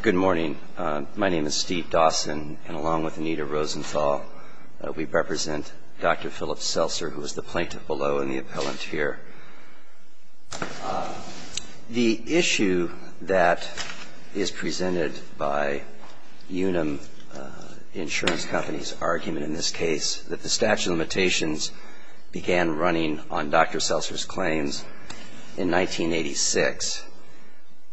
Good morning. My name is Steve Dawson, and along with Anita Rosenthal, we represent Dr. Philip Seltzer, who is the plaintiff below and the appellant here. The issue that is presented by Unum Insurance Company's argument in this case, that the statute of limitations began running on Dr. Seltzer's claims in 1986,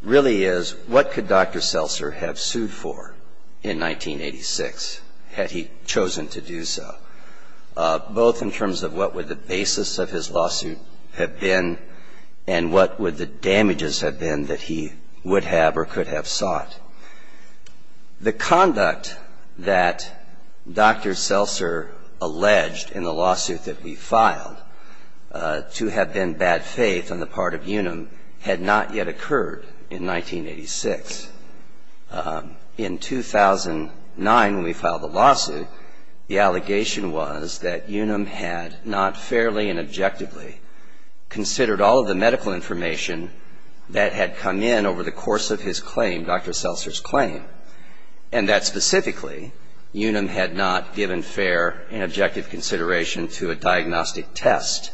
really is, what could Dr. Seltzer have sued for in 1986, had he chosen to do so? Both in terms of what would the basis of his lawsuit have been and what would the damages have been that he would have or could have sought. The conduct that Dr. Seltzer alleged in the lawsuit that we filed to have been bad faith on the part of Unum had not yet occurred in 1986. In 2009, when we filed the lawsuit, the allegation was that Unum had not fairly and objectively considered all of the medical information that had come in over the course of his claim. Dr. Seltzer's claim, and that specifically, Unum had not given fair and objective consideration to a diagnostic test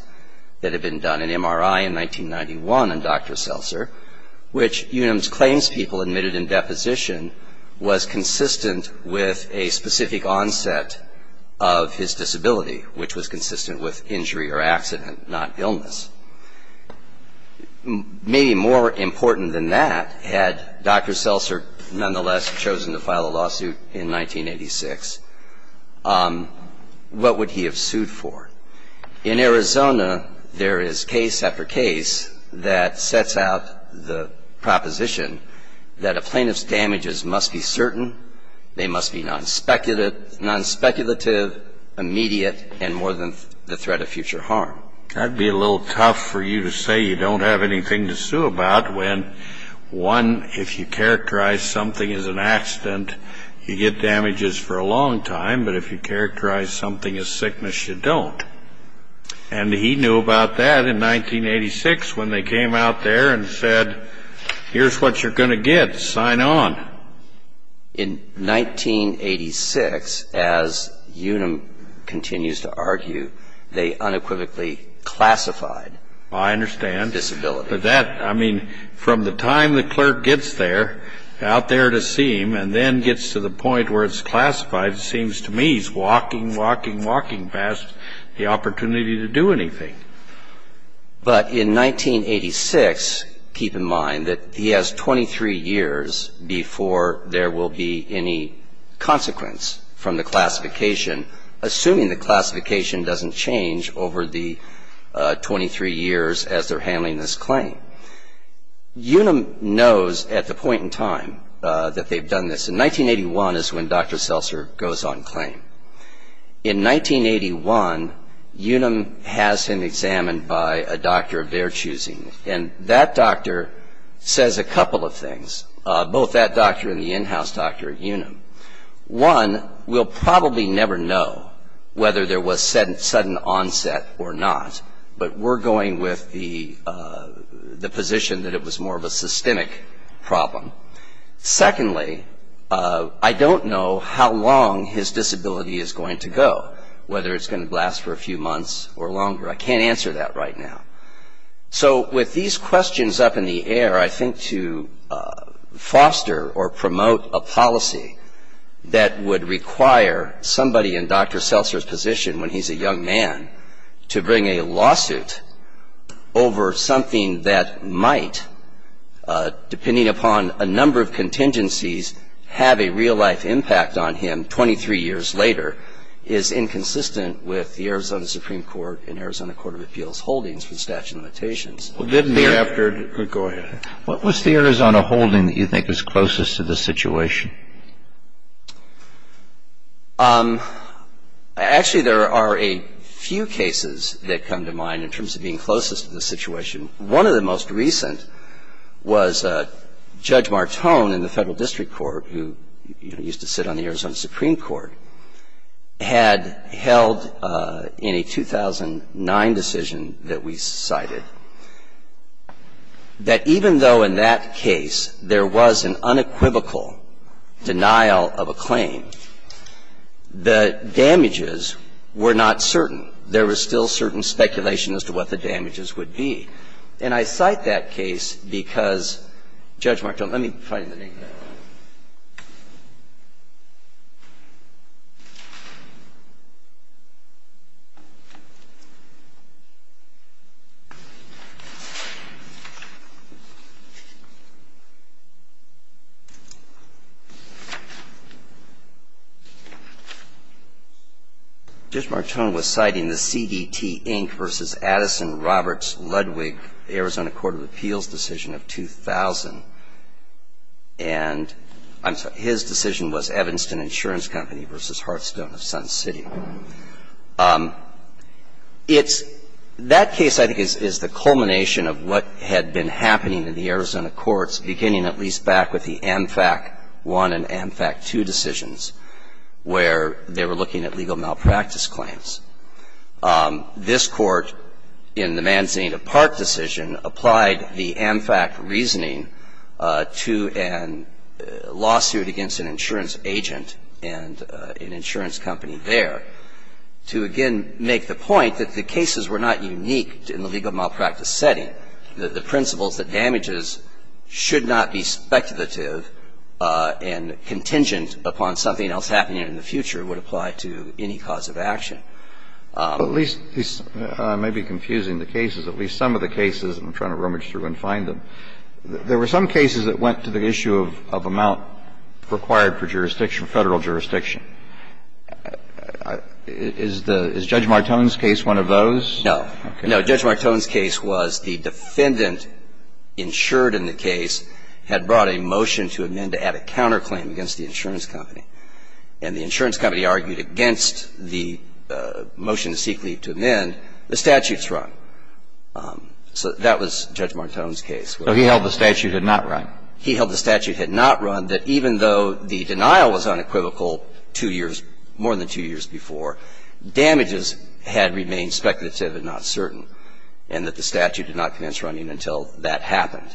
that had been done in MRI in 1991 on Dr. Seltzer, which Unum's claims people admitted in deposition was consistent with a specific onset of his disability, which was consistent with injury or accident, not illness. Maybe more important than that, had Dr. Seltzer nonetheless chosen to file a lawsuit in 1986, what would he have sued for? In Arizona, there is case after case that sets out the proposition that a plaintiff's damages must be certain, they must be non-speculative, immediate, and more than the threat of future harm. That would be a little tough for you to say you don't have anything to sue about when, one, if you characterize something as an accident, you get damages for a long time, but if you characterize something as sickness, you don't. And he knew about that in 1986 when they came out there and said, here's what you're going to get, sign on. In 1986, as Unum continues to argue, they unequivocally classified disability. I understand. But that, I mean, from the time the clerk gets there, out there to see him, and then gets to the point where it's classified, it seems to me he's walking, walking, walking past the opportunity to do anything. But in 1986, keep in mind that he has 23 years before there will be any consequence from the classification, assuming the classification doesn't change over the 23 years as they're handling this claim. Unum knows at the point in time that they've done this. In 1981 is when Dr. Seltzer goes on claim. In 1981, Unum has him examined by a doctor of their choosing, and that doctor says a couple of things, both that doctor and the in-house doctor at Unum. One, we'll probably never know whether there was sudden onset or not, but we're going with the position that it was more of a systemic problem. Secondly, I don't know how long his disability is going to go, whether it's going to last for a few months or longer. I can't answer that right now. So with these questions up in the air, I think to foster or promote a policy that would require somebody in Dr. Seltzer's position, when he's a young man, to bring a lawsuit over something that might, depending upon a number of contingencies, have a real-life impact on him 23 years later, is inconsistent with the Arizona Supreme Court and Arizona Court of Appeals holdings for statute of limitations. What was the Arizona holding that you think is closest to this situation? Actually, there are a few cases that come to mind in terms of being closest to this situation. One of the most recent was Judge Martone in the Federal District Court, who used to sit on the Arizona Supreme Court, had held in a 2009 decision that we cited that even though in that case there was an unequivocal denial of a claim, the damages were not certain. There was still certain speculation as to what the damages would be. And I cite that case because Judge Martone was citing the CDT, Inc. v. Addison-Roberts-Ludwig case. That case, I think, is the culmination of what had been happening in the Arizona courts beginning at least back with the AmFac I and AmFac II decisions where they were looking at legal malpractice claims. This Court, in the Manzanita Park decision, had the same kind of view as the AmFac I decision, applied the AmFac reasoning to a lawsuit against an insurance agent and an insurance company there to, again, make the point that the cases were not unique in the legal malpractice setting, that the principles that damages should not be speculative and contingent upon something else happening in the future would apply to any cause of action. But at least, this may be confusing the cases, at least some of the cases, and I'm trying to rummage through and find them. There were some cases that went to the issue of amount required for jurisdiction, Federal jurisdiction. Is Judge Martone's case one of those? No. No. Judge Martone's case was the defendant insured in the case had brought a motion to amend to add a counterclaim against the insurance company. And the insurance company argued against the motion to seek leave to amend. The statute's run. So that was Judge Martone's case. So he held the statute had not run. He held the statute had not run, that even though the denial was unequivocal two years, more than two years before, damages had remained speculative and not certain, and that the statute did not commence running until that happened.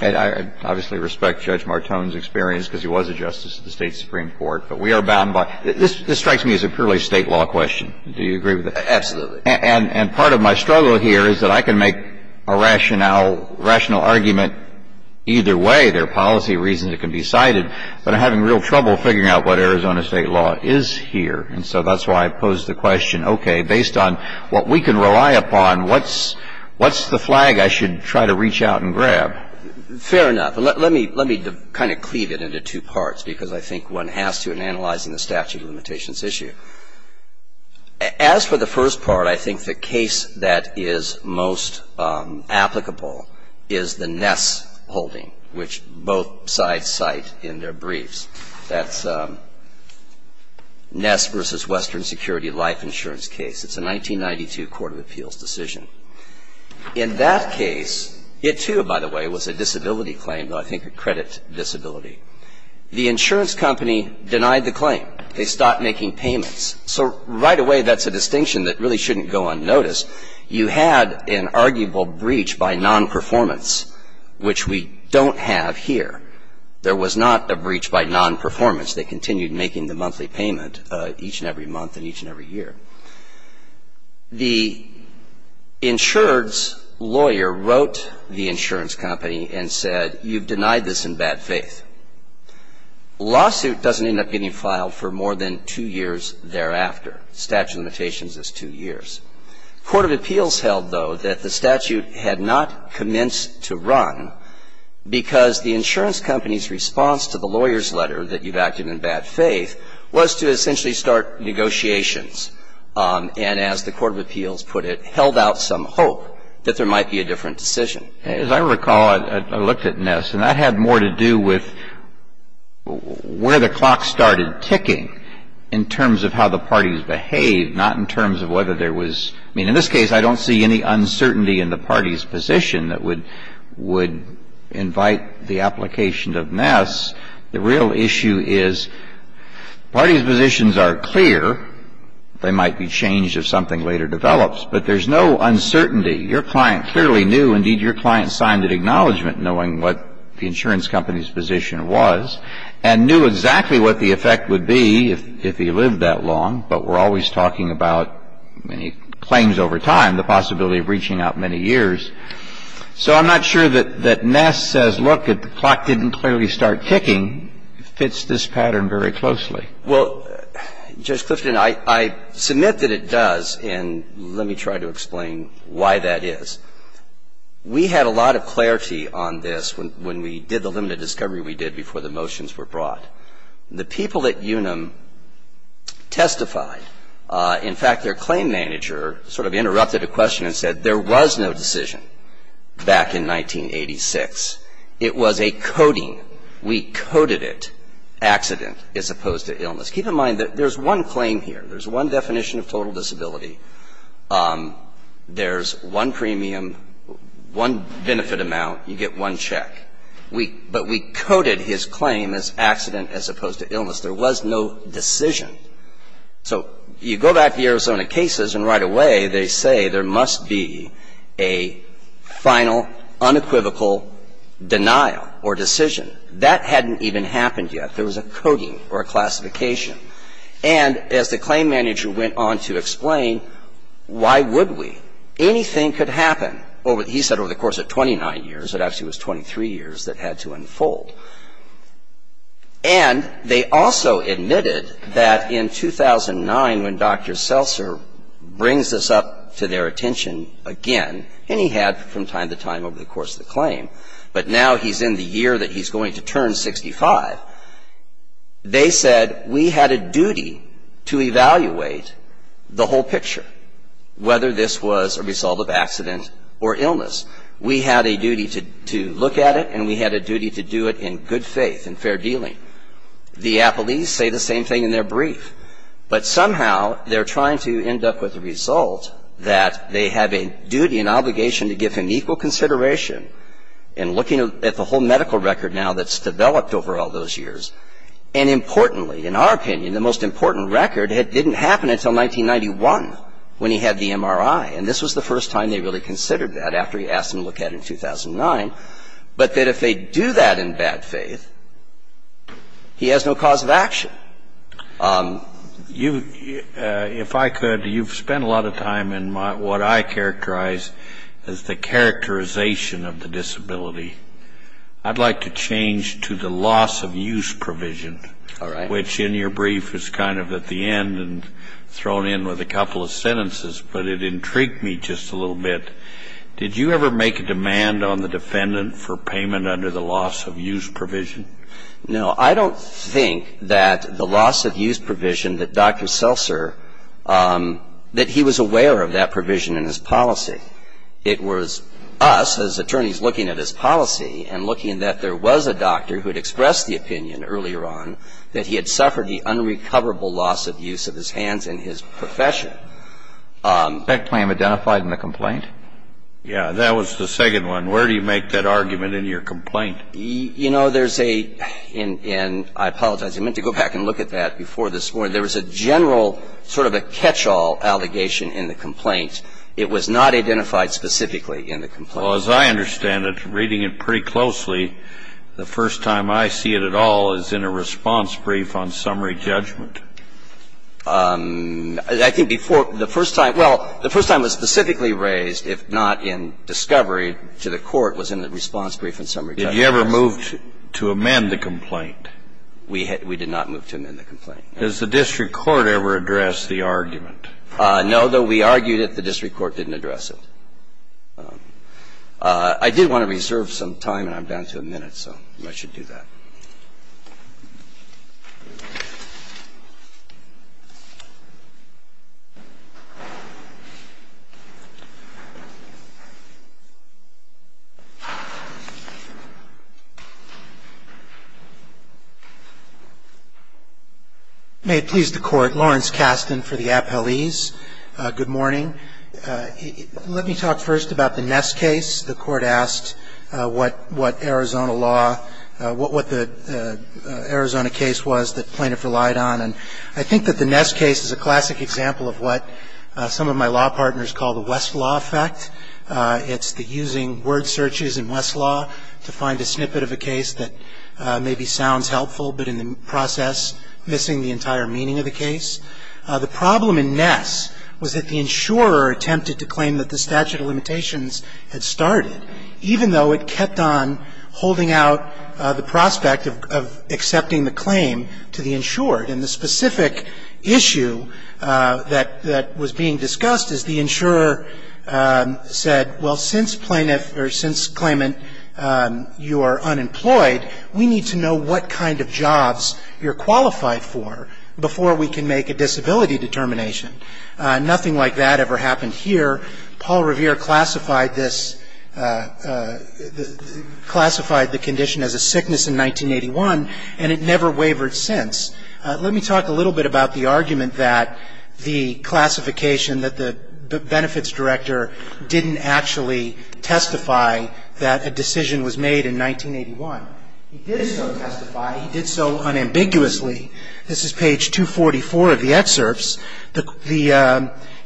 And I obviously respect Judge Martone's experience, because he was a justice at the State Supreme Court. But we are bound by – this strikes me as a purely State law question. Do you agree with that? Absolutely. And part of my struggle here is that I can make a rationale, rational argument either way. There are policy reasons it can be cited, but I'm having real trouble figuring out what Arizona State law is here. And so that's why I pose the question, okay, based on what we can rely upon, what's the flag I should try to reach out and grab? Fair enough. Let me kind of cleave it into two parts, because I think one has to in analyzing the statute of limitations issue. As for the first part, I think the case that is most applicable is the Ness holding, which both sides cite in their briefs. That's Ness v. Western Security Life Insurance case. It's a 1992 court of appeals decision. In that case, it, too, by the way, was a disability claim, though I think a credit disability. The insurance company denied the claim. They stopped making payments. So right away, that's a distinction that really shouldn't go unnoticed. You had an arguable breach by nonperformance, which we don't have here. There was not a breach by nonperformance. They continued making the monthly payment each and every month and each and every year. The insured's lawyer wrote the insurance company and said, you've denied this in bad faith. Lawsuit doesn't end up getting filed for more than two years thereafter. Statute of limitations is two years. Court of appeals held, though, that the statute had not commenced to run because the insurance company's response to the lawyer's letter that you've acted in bad faith was to essentially start negotiations and, as the court of appeals put it, held out some hope that there might be a different decision. As I recall, I looked at Ness, and that had more to do with where the clock started ticking in terms of how the parties behaved, not in terms of whether there was – I mean, in this case, I don't see any uncertainty in the party's position that would invite the application of Ness. The real issue is parties' positions are clear. They might be changed if something later develops. But there's no uncertainty. Your client clearly knew. Indeed, your client signed an acknowledgment knowing what the insurance company's position was and knew exactly what the effect would be if he lived that long. But we're always talking about claims over time, the possibility of breaching out many years. So I'm not sure that Ness says, look, if the clock didn't clearly start ticking, fits this pattern very closely. Well, Judge Clifton, I submit that it does, and let me try to explain why that is. We had a lot of clarity on this when we did the limited discovery we did before the motions were brought. The people at Unum testified. In fact, their claim manager sort of interrupted a question and said there was no decision. Back in 1986, it was a coding. We coded it accident as opposed to illness. Keep in mind that there's one claim here. There's one definition of total disability. There's one premium, one benefit amount. You get one check. But we coded his claim as accident as opposed to illness. There was no decision. So you go back to the Arizona cases, and right away they say there must be a final, unequivocal denial or decision. That hadn't even happened yet. There was a coding or a classification. And as the claim manager went on to explain, why would we? Anything could happen. He said over the course of 29 years. It actually was 23 years that had to unfold. And they also admitted that in 2009, when Dr. Seltzer brings this up to their attention again, and he had from time to time over the course of the claim, but now he's in the year that he's going to turn 65. They said we had a duty to evaluate the whole picture, whether this was a result of accident or illness. We had a duty to look at it, and we had a duty to do it in a way that was consistent and good faith and fair dealing. The Applees say the same thing in their brief. But somehow they're trying to end up with a result that they have a duty and obligation to give him equal consideration in looking at the whole medical record now that's developed over all those years. And importantly, in our opinion, the most important record, it didn't happen until 1991 when he had the MRI. And this was the first time they really considered that after he asked them to look at it in 2009. But that if they do that in bad faith, he has no cause of action. You, if I could, you've spent a lot of time in what I characterize as the characterization of the disability. I'd like to change to the loss of use provision. All right. Which in your brief is kind of at the end and thrown in with a couple of sentences, but it intrigued me just a little bit. Did you ever make a demand on the defendant for payment under the loss of use provision? No. I don't think that the loss of use provision that Dr. Seltzer, that he was aware of that provision in his policy. It was us as attorneys looking at his policy and looking that there was a doctor who had expressed the opinion earlier on that he had suffered the unrecoverable loss of use of his hands in his profession. I think that's the first time I've seen that. Was that claim identified in the complaint? Yeah. That was the second one. Where do you make that argument in your complaint? You know, there's a — and I apologize. I meant to go back and look at that before this morning. There was a general sort of a catch-all allegation in the complaint. It was not identified specifically in the complaint. Well, as I understand it, reading it pretty closely, the first time I see it at all is in a response brief on summary judgment. I think before the first time — well, the first time it was specifically raised, if not in discovery, to the court, was in the response brief on summary judgment. Did you ever move to amend the complaint? We did not move to amend the complaint. Does the district court ever address the argument? No. Though we argued it, the district court didn't address it. I did want to reserve some time, and I'm down to a minute, so I should do that. May it please the Court. Lawrence Kasten for the appellees. Good morning. Let me talk first about the Ness case. The Court asked what Arizona law, what the Arizona case was that plaintiff relied on. And I think that the Ness case is a classic example of what some of my law partners call the Westlaw effect. It's the using word searches in Westlaw to find a snippet of a case that maybe sounds helpful, but in the process, missing the entire meaning of the case. The problem in Ness was that the insurer attempted to claim that the statute of limitations had started, even though it kept on holding out the prospect of accepting the claim to the insured. And the specific issue that was being discussed is the insurer said, well, since plaintiff, or since claimant, you are unemployed, we need to know what kind of jobs you're qualified for before we can make a disability determination. Nothing like that ever happened here. Paul Revere classified this, classified the condition as a sickness in 1981, and it never wavered since. Let me talk a little bit about the argument that the classification, that the benefits director didn't actually testify that a decision was made in 1981. He did so testify. He did so unambiguously. This is page 244 of the excerpts.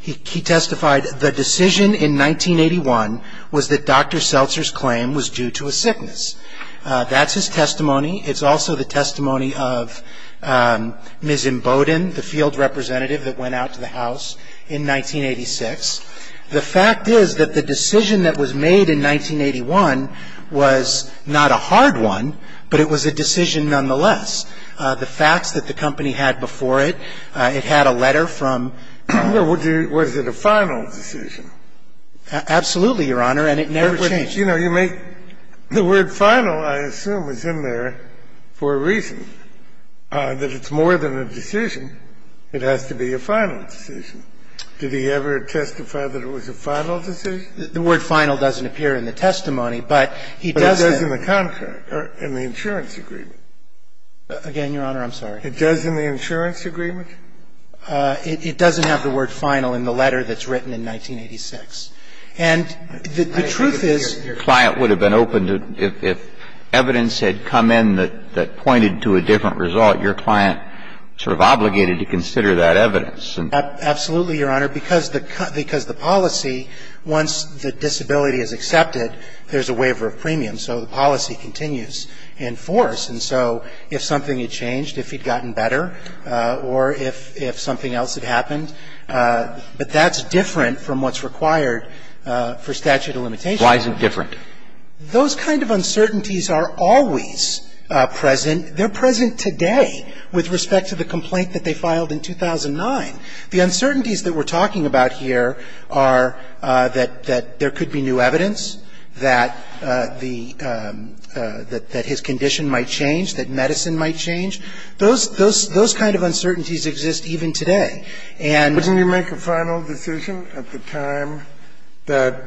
He testified the decision in 1981 was that Dr. Seltzer's claim was due to a sickness. That's his testimony. It's also the testimony of Ms. Emboden, the field representative that went out to the House in 1986. The fact is that the decision that was made in 1981 was not a hard one, but it was a decision nonetheless. The facts that the company had before it, it had a letter from the company. Was it a final decision? Absolutely, Your Honor, and it never changed. You know, you make the word final, I assume, is in there for a reason, that it's more than a decision. It has to be a final decision. Did he ever testify that it was a final decision? The word final doesn't appear in the testimony, but he does then. But it does in the contract, or in the insurance agreement. Again, Your Honor, I'm sorry. It does in the insurance agreement? It doesn't have the word final in the letter that's written in 1986. And the truth is. Your client would have been open to, if evidence had come in that pointed to a different result, your client sort of obligated to consider that evidence. Absolutely, Your Honor, because the policy, once the disability is accepted, there's a waiver of premium. So the policy continues in force. And so if something had changed, if he'd gotten better, or if something else had happened, but that's different from what's required for statute of limitations. Why isn't it different? Those kind of uncertainties are always present. And they're present today with respect to the complaint that they filed in 2009. The uncertainties that we're talking about here are that there could be new evidence, that the – that his condition might change, that medicine might change. Those kind of uncertainties exist even today. And the fact that he's not going to get better. Didn't he make a final decision at the time that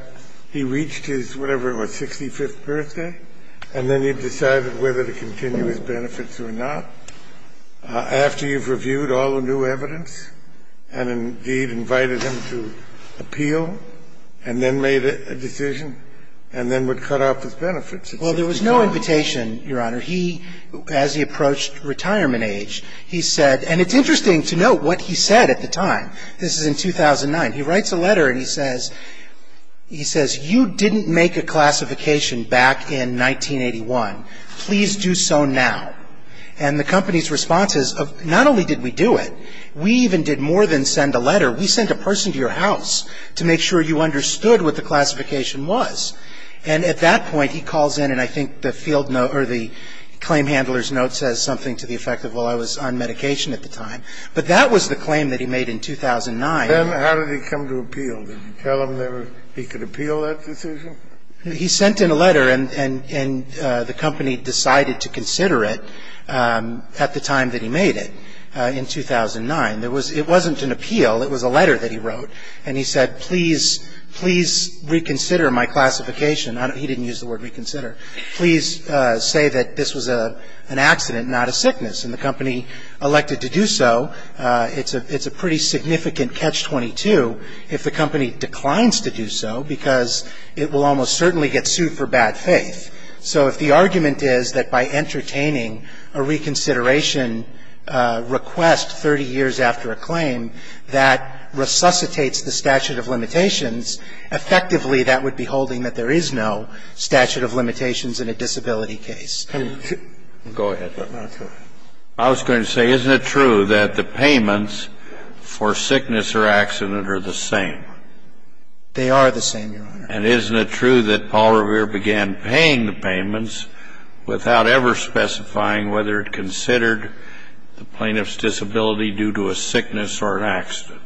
he reached his, whatever it was, 65th birthday, and then he decided whether to continue his benefits or not, after you've reviewed all the new evidence, and indeed invited him to appeal, and then made a decision, and then would cut off his benefits? Well, there was no invitation, Your Honor. He, as he approached retirement age, he said – and it's interesting to note what he said at the time. This is in 2009. He writes a letter and he says, you didn't make a classification back in 1981. Please do so now. And the company's response is, not only did we do it, we even did more than send a letter. We sent a person to your house to make sure you understood what the classification was. And at that point, he calls in, and I think the claim handler's note says something to the effect of, well, I was on medication at the time. But that was the claim that he made in 2009. Then how did he come to appeal? Did you tell him that he could appeal that decision? He sent in a letter, and the company decided to consider it at the time that he made it in 2009. It wasn't an appeal. It was a letter that he wrote. And he said, please, please reconsider my classification. He didn't use the word reconsider. Please say that this was an accident, not a sickness. And the company elected to do so. It's a pretty significant catch-22 if the company declines to do so because it will almost certainly get sued for bad faith. So if the argument is that by entertaining a reconsideration request 30 years after a claim, that resuscitates the statute of limitations, effectively, that would be holding that there is no statute of limitations in a disability case. Go ahead. I was going to say, isn't it true that the payments for sickness or accident are the same? They are the same, Your Honor. And isn't it true that Paul Revere began paying the payments without ever specifying whether it considered the plaintiff's disability due to a sickness or an accident?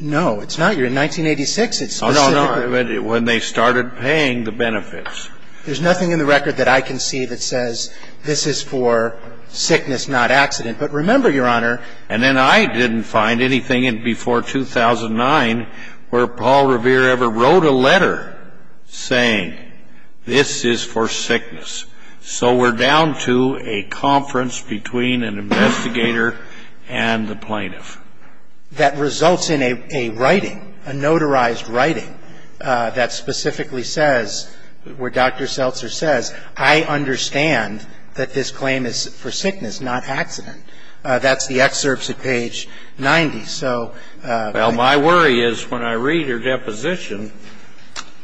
No, it's not. You're in 1986. It's specific. No, no. When they started paying the benefits. There's nothing in the record that I can see that says this is for sickness, not accident. But remember, Your Honor. And then I didn't find anything before 2009 where Paul Revere ever wrote a letter saying this is for sickness. So we're down to a conference between an investigator and the plaintiff. And I don't know if there's anything in the record that results in a writing, a notarized writing that specifically says, where Dr. Seltzer says, I understand that this claim is for sickness, not accident. That's the excerpts at page 90. So my worry is when I read her deposition,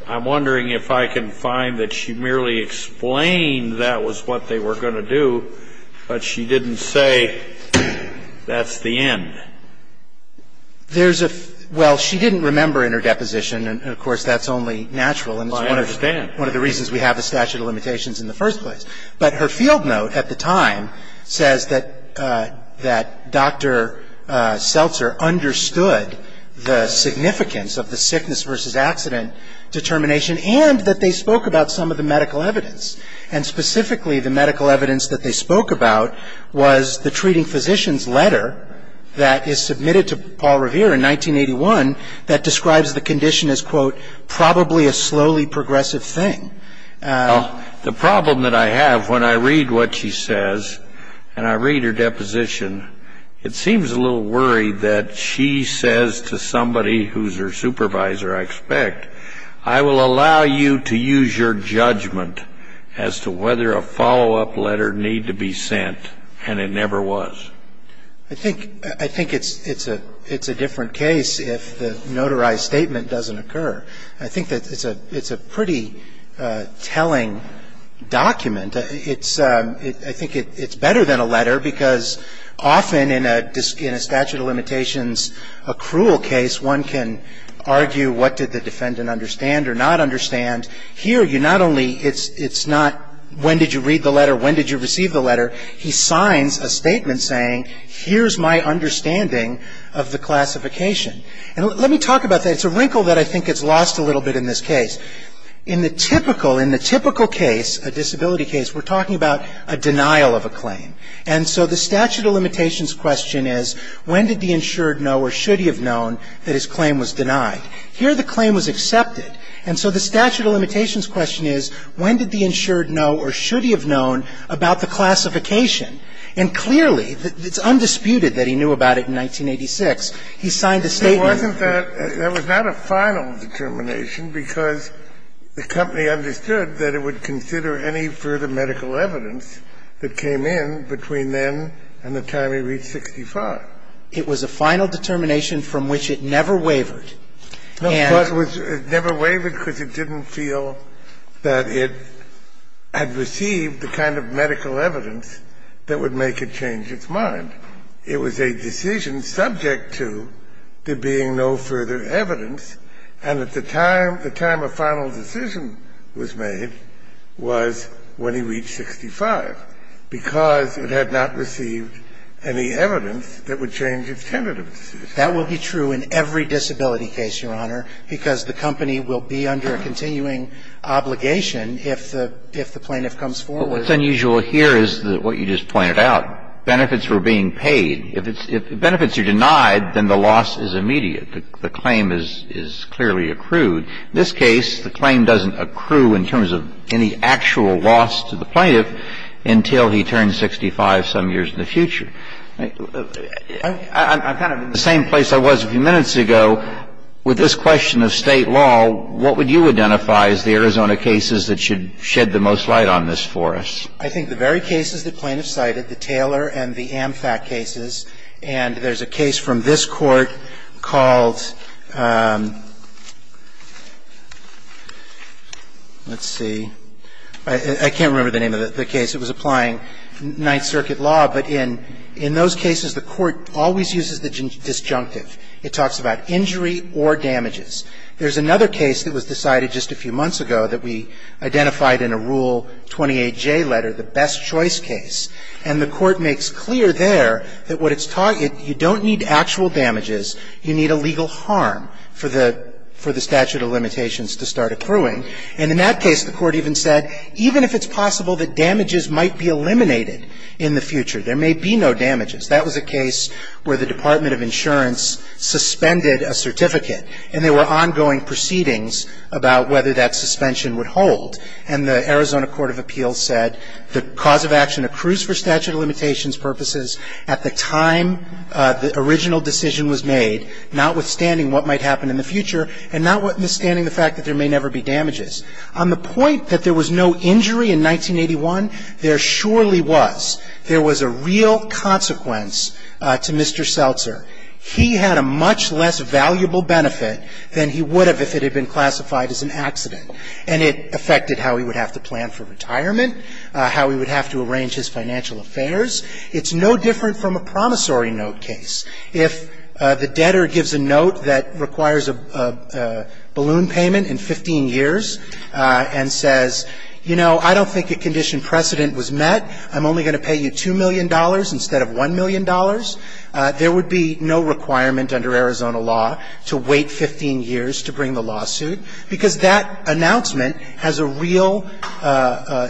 I'm wondering if I can find that she merely explained that was what they were going to do, but she didn't say that's the end. There's a – well, she didn't remember in her deposition. And, of course, that's only natural. I understand. And it's one of the reasons we have the statute of limitations in the first place. But her field note at the time says that Dr. Seltzer understood the significance of the sickness versus accident determination and that they spoke about some of the medical evidence. And specifically, the medical evidence that they spoke about was the treating physician's letter that is submitted to Paul Revere in 1981 that describes the condition as, quote, probably a slowly progressive thing. The problem that I have when I read what she says and I read her deposition, it seems a little worried that she says to somebody who's her supervisor, I expect, I will allow you to use your judgment as to whether a follow-up letter need to be sent, and it never was. I think it's a different case if the notarized statement doesn't occur. I think that it's a pretty telling document. I think it's better than a letter because often in a statute of limitations, a cruel case, one can argue what did the defendant understand or not understand. Here, you not only, it's not when did you read the letter, when did you receive the letter. He signs a statement saying, here's my understanding of the classification. And let me talk about that. It's a wrinkle that I think gets lost a little bit in this case. In the typical case, a disability case, we're talking about a denial of a claim. And so the statute of limitations question is, when did the insured know or should he have known that his claim was denied? Here, the claim was accepted. And so the statute of limitations question is, when did the insured know or should he have known about the classification? And clearly, it's undisputed that he knew about it in 1986. He signed a statement. It wasn't that that was not a final determination because the company understood that it would consider any further medical evidence that came in between then and the time he reached 65. It was a final determination from which it never wavered. No, of course, it never wavered because it didn't feel that it had received the kind of medical evidence that would make it change its mind. It was a decision subject to there being no further evidence. And at the time the time a final decision was made was when he reached 65 because it had not received any evidence that would change its tentative decision. That will be true in every disability case, Your Honor, because the company will be under a continuing obligation if the plaintiff comes forward. But what's unusual here is what you just pointed out. Benefits were being paid. If benefits are denied, then the loss is immediate. The claim is clearly accrued. In this case, the claim doesn't accrue in terms of any actual loss to the plaintiff until he turns 65 some years in the future. I'm kind of in the same place I was a few minutes ago with this question of State law, what would you identify as the Arizona cases that should shed the most light on this for us? I think the very cases the plaintiff cited, the Taylor and the Amfat cases, and there's a case from this Court called, let's see, I can't remember the name of the case. It was applying Ninth Circuit law, but in those cases the Court always uses the disjunctive. It talks about injury or damages. There's another case that was decided just a few months ago that we identified in a Rule 28J letter, the Best Choice case, and the Court makes clear there that what it's talking about, you don't need actual damages, you need a legal harm for the statute of limitations to start accruing. And in that case, the Court even said, even if it's possible that damages might be eliminated in the future, there may be no damages. That was a case where the Department of Insurance suspended a certificate and there were ongoing proceedings about whether that suspension would hold. And the Arizona Court of Appeals said the cause of action accrues for statute of limitations purposes at the time the original decision was made, notwithstanding what might happen in the future and notwithstanding the fact that there may never be damages. On the point that there was no injury in 1981, there surely was. There was a real consequence to Mr. Seltzer. He had a much less valuable benefit than he would have if it had been classified as an accident. And it affected how he would have to plan for retirement, how he would have to arrange his financial affairs. It's no different from a promissory note case. If the debtor gives a note that requires a balloon payment in 15 years and says, you know, I don't think a condition precedent was met, I'm only going to pay you $2 million instead of $1 million, there would be no requirement under Arizona law to wait 15 years to bring the lawsuit, because that announcement has a real –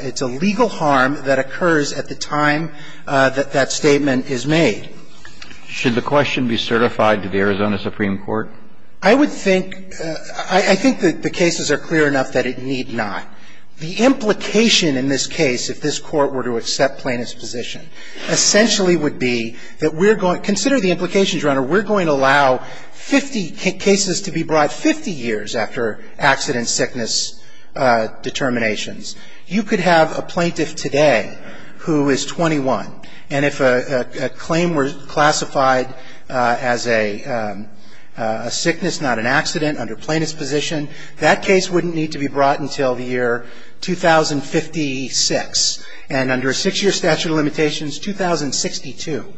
it's a legal harm that occurs at the time that that statement is made. Should the question be certified to the Arizona Supreme Court? I would think – I think that the cases are clear enough that it need not. The implication in this case, if this Court were to accept plaintiff's position, essentially would be that we're going – consider the implications, Your Honor. We're going to allow 50 cases to be brought 50 years after accident-sickness determinations. You could have a plaintiff today who is 21, and if a claim were classified as a sickness, not an accident, under plaintiff's position, that case wouldn't need to be brought until the year 2056. And under a 6-year statute of limitations, 2062.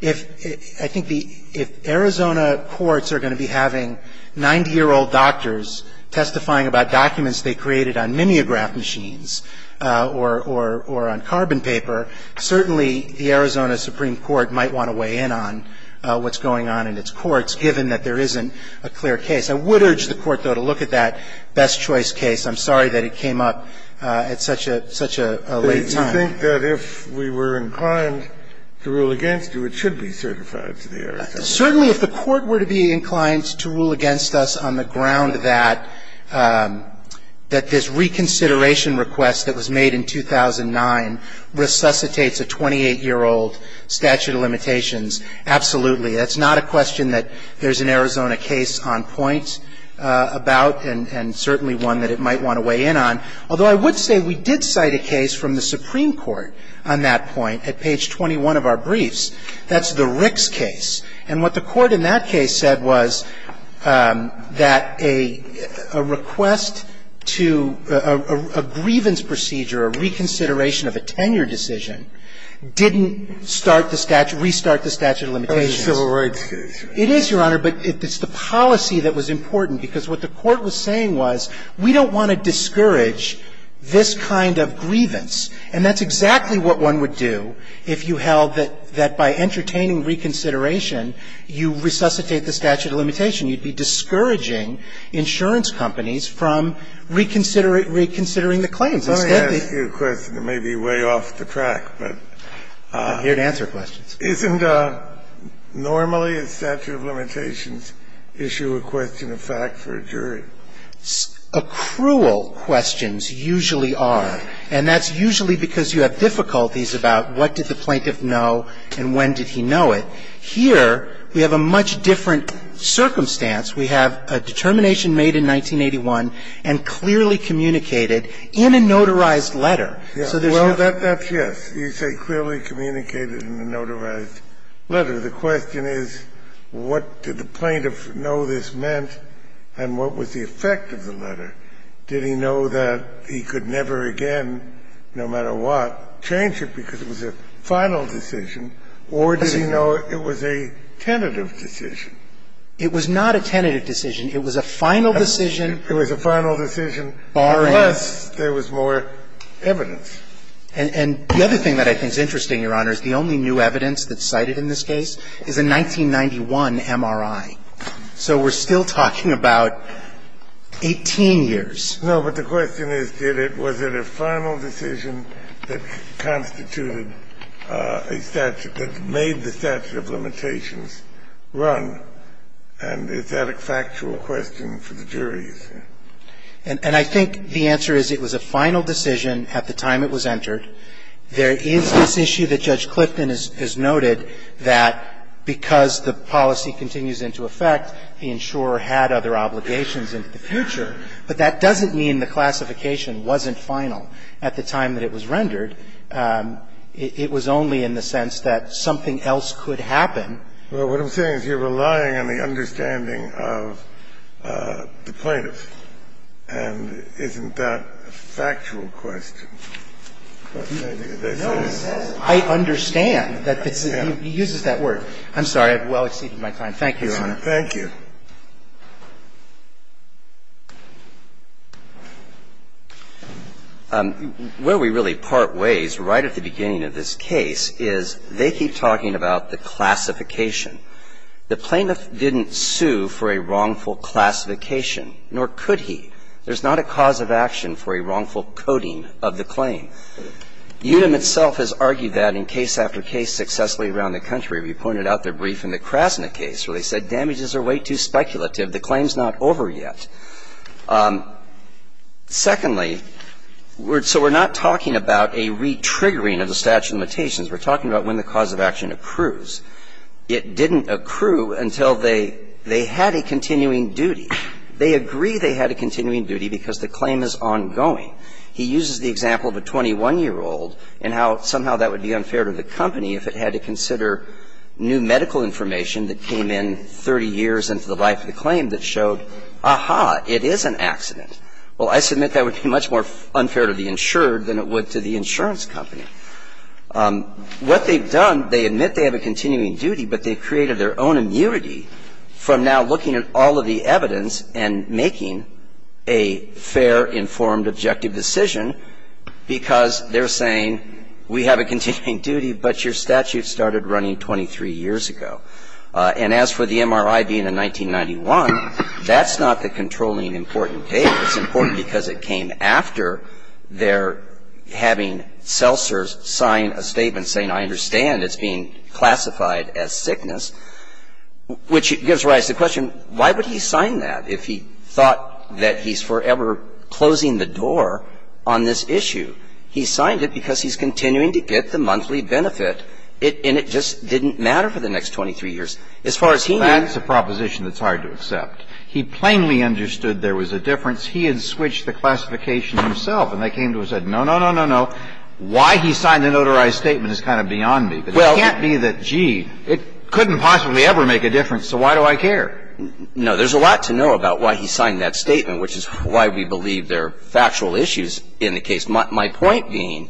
If – I think the – if Arizona courts are going to be having 90-year-old doctors testifying about documents they created on mimeograph machines or on carbon paper, certainly the Arizona Supreme Court might want to weigh in on what's going on in its courts, given that there isn't a clear case. I would urge the Court, though, to look at that best-choice case. I'm sorry that it came up at such a – at such a late time. Kennedy, you think that if we were inclined to rule against you, it should be certified to the Arizona court? Certainly, if the Court were to be inclined to rule against us on the ground that – that this reconsideration request that was made in 2009 resuscitates a 28-year-old statute of limitations, absolutely. That's not a question that there's an Arizona case on point about and – and certainly one that it might want to weigh in on. Although I would say we did cite a case from the Supreme Court on that point at page 21 of our briefs. That's the Ricks case. And what the Court in that case said was that a request to a grievance procedure, a reconsideration of a tenure decision, didn't start the statute – restart the statute of limitations. It's a civil rights case. It is, Your Honor, but it's the policy that was important, because what the Court was saying was we don't want to discourage this kind of grievance. And that's exactly what one would do if you held that – that by entertaining reconsideration, you resuscitate the statute of limitation. You'd be discouraging insurance companies from reconsidering the claims. Let me ask you a question that may be way off the track, but – I'm here to answer questions. Isn't normally a statute of limitations issue a question of fact for a jury? Accrual questions usually are, and that's usually because you have difficulties about what did the plaintiff know and when did he know it. Here we have a much different circumstance. We have a determination made in 1981 and clearly communicated in a notarized letter. So there's no – No, that's yes. You say clearly communicated in a notarized letter. The question is what did the plaintiff know this meant and what was the effect of the letter. Did he know that he could never again, no matter what, change it because it was a final decision, or did he know it was a tentative decision? It was not a tentative decision. It was a final decision. It was a final decision. Barring? Unless there was more evidence. And the other thing that I think is interesting, Your Honor, is the only new evidence that's cited in this case is a 1991 MRI. So we're still talking about 18 years. No, but the question is, did it – was it a final decision that constituted a statute – that made the statute of limitations run? And is that a factual question for the jury, you say? And I think the answer is it was a final decision at the time it was entered. There is this issue that Judge Clifton has noted that because the policy continues into effect, the insurer had other obligations into the future. But that doesn't mean the classification wasn't final at the time that it was rendered. It was only in the sense that something else could happen. Well, what I'm saying is you're relying on the understanding of the plaintiff. And isn't that a factual question? No, it says, I understand. It uses that word. I'm sorry. I've well exceeded my time. Thank you, Your Honor. Thank you. Where we really part ways right at the beginning of this case is they keep talking about the classification. The plaintiff didn't sue for a wrongful classification, nor could he. There's not a cause of action for a wrongful coding of the claim. UDEM itself has argued that in case after case successfully around the country. We pointed out the brief in the Krasna case where they said damages are way too speculative. The claim's not over yet. Secondly, so we're not talking about a re-triggering of the statute of limitations. We're talking about when the cause of action accrues. It didn't accrue until they had a continuing duty. They agree they had a continuing duty because the claim is ongoing. He uses the example of a 21-year-old and how somehow that would be unfair to the company if it had to consider new medical information that came in 30 years into the life of the claim that showed, aha, it is an accident. Well, I submit that would be much more unfair to the insured than it would to the insurance company. What they've done, they admit they have a continuing duty, but they've created their own immunity from now looking at all of the evidence and making a fair, informed, objective decision because they're saying we have a continuing duty, but your statute started running 23 years ago. And as for the MRI being in 1991, that's not the controlling important case. It's important because it came after their having Selser sign a statement saying, I understand it's being classified as sickness, which gives rise to the question, why would he sign that if he thought that he's forever closing the door on this issue? He signed it because he's continuing to get the monthly benefit, and it just didn't matter for the next 23 years. As far as he knew. Well, that's a proposition that's hard to accept. He plainly understood there was a difference. He had switched the classification himself. And they came to him and said, no, no, no, no, no. Why he signed the notarized statement is kind of beyond me. But it can't be that, gee, it couldn't possibly ever make a difference, so why do I care? No. There's a lot to know about why he signed that statement, which is why we believe there are factual issues in the case. My point being,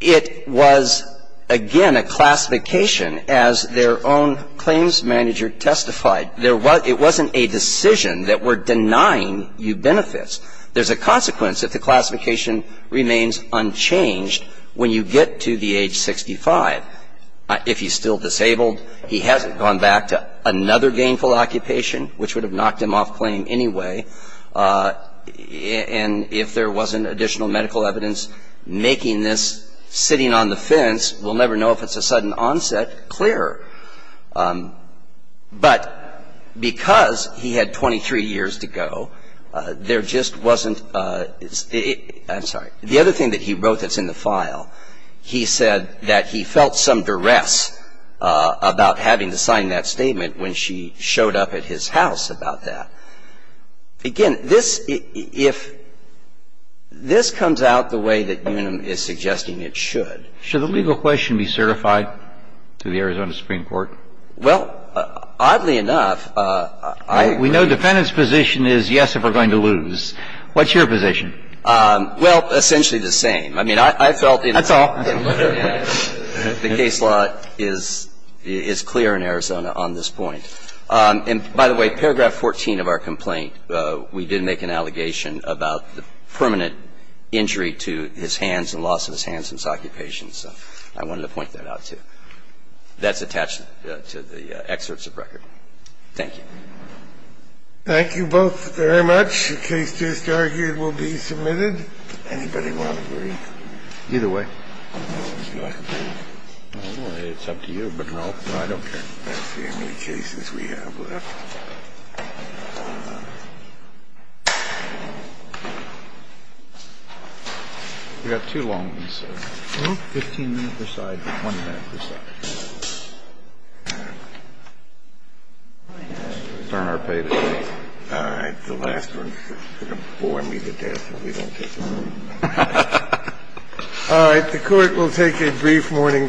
it was, again, a classification as their own claims manager testified it wasn't a decision that we're denying you benefits. There's a consequence if the classification remains unchanged when you get to the age 65. If he's still disabled, he hasn't gone back to another gainful occupation, which would have knocked him off claim anyway. And if there wasn't additional medical evidence making this sitting on the fence, we'll never know if it's a sudden onset clearer. But because he had 23 years to go, there just wasn't the other thing that he wrote that's in the file. He said that he felt some duress about having to sign that statement when she showed up at his house about that. Again, this, if this comes out the way that Unum is suggesting it should. Should the legal question be certified to the Arizona Supreme Court? Well, oddly enough, I agree. We know defendant's position is yes if we're going to lose. What's your position? Well, essentially the same. I mean, I felt in the case law is clear in Arizona on this point. And by the way, paragraph 14 of our complaint, we did make an allegation about the So I wanted to point that out, too. That's attached to the excerpts of record. Thank you. Thank you both very much. The case just argued will be submitted. Anybody want to agree? Either way. I don't know. It's up to you. But no, I don't care. That's the only cases we have left. We've got two long ones. All right. The court will take a brief morning break. All rise.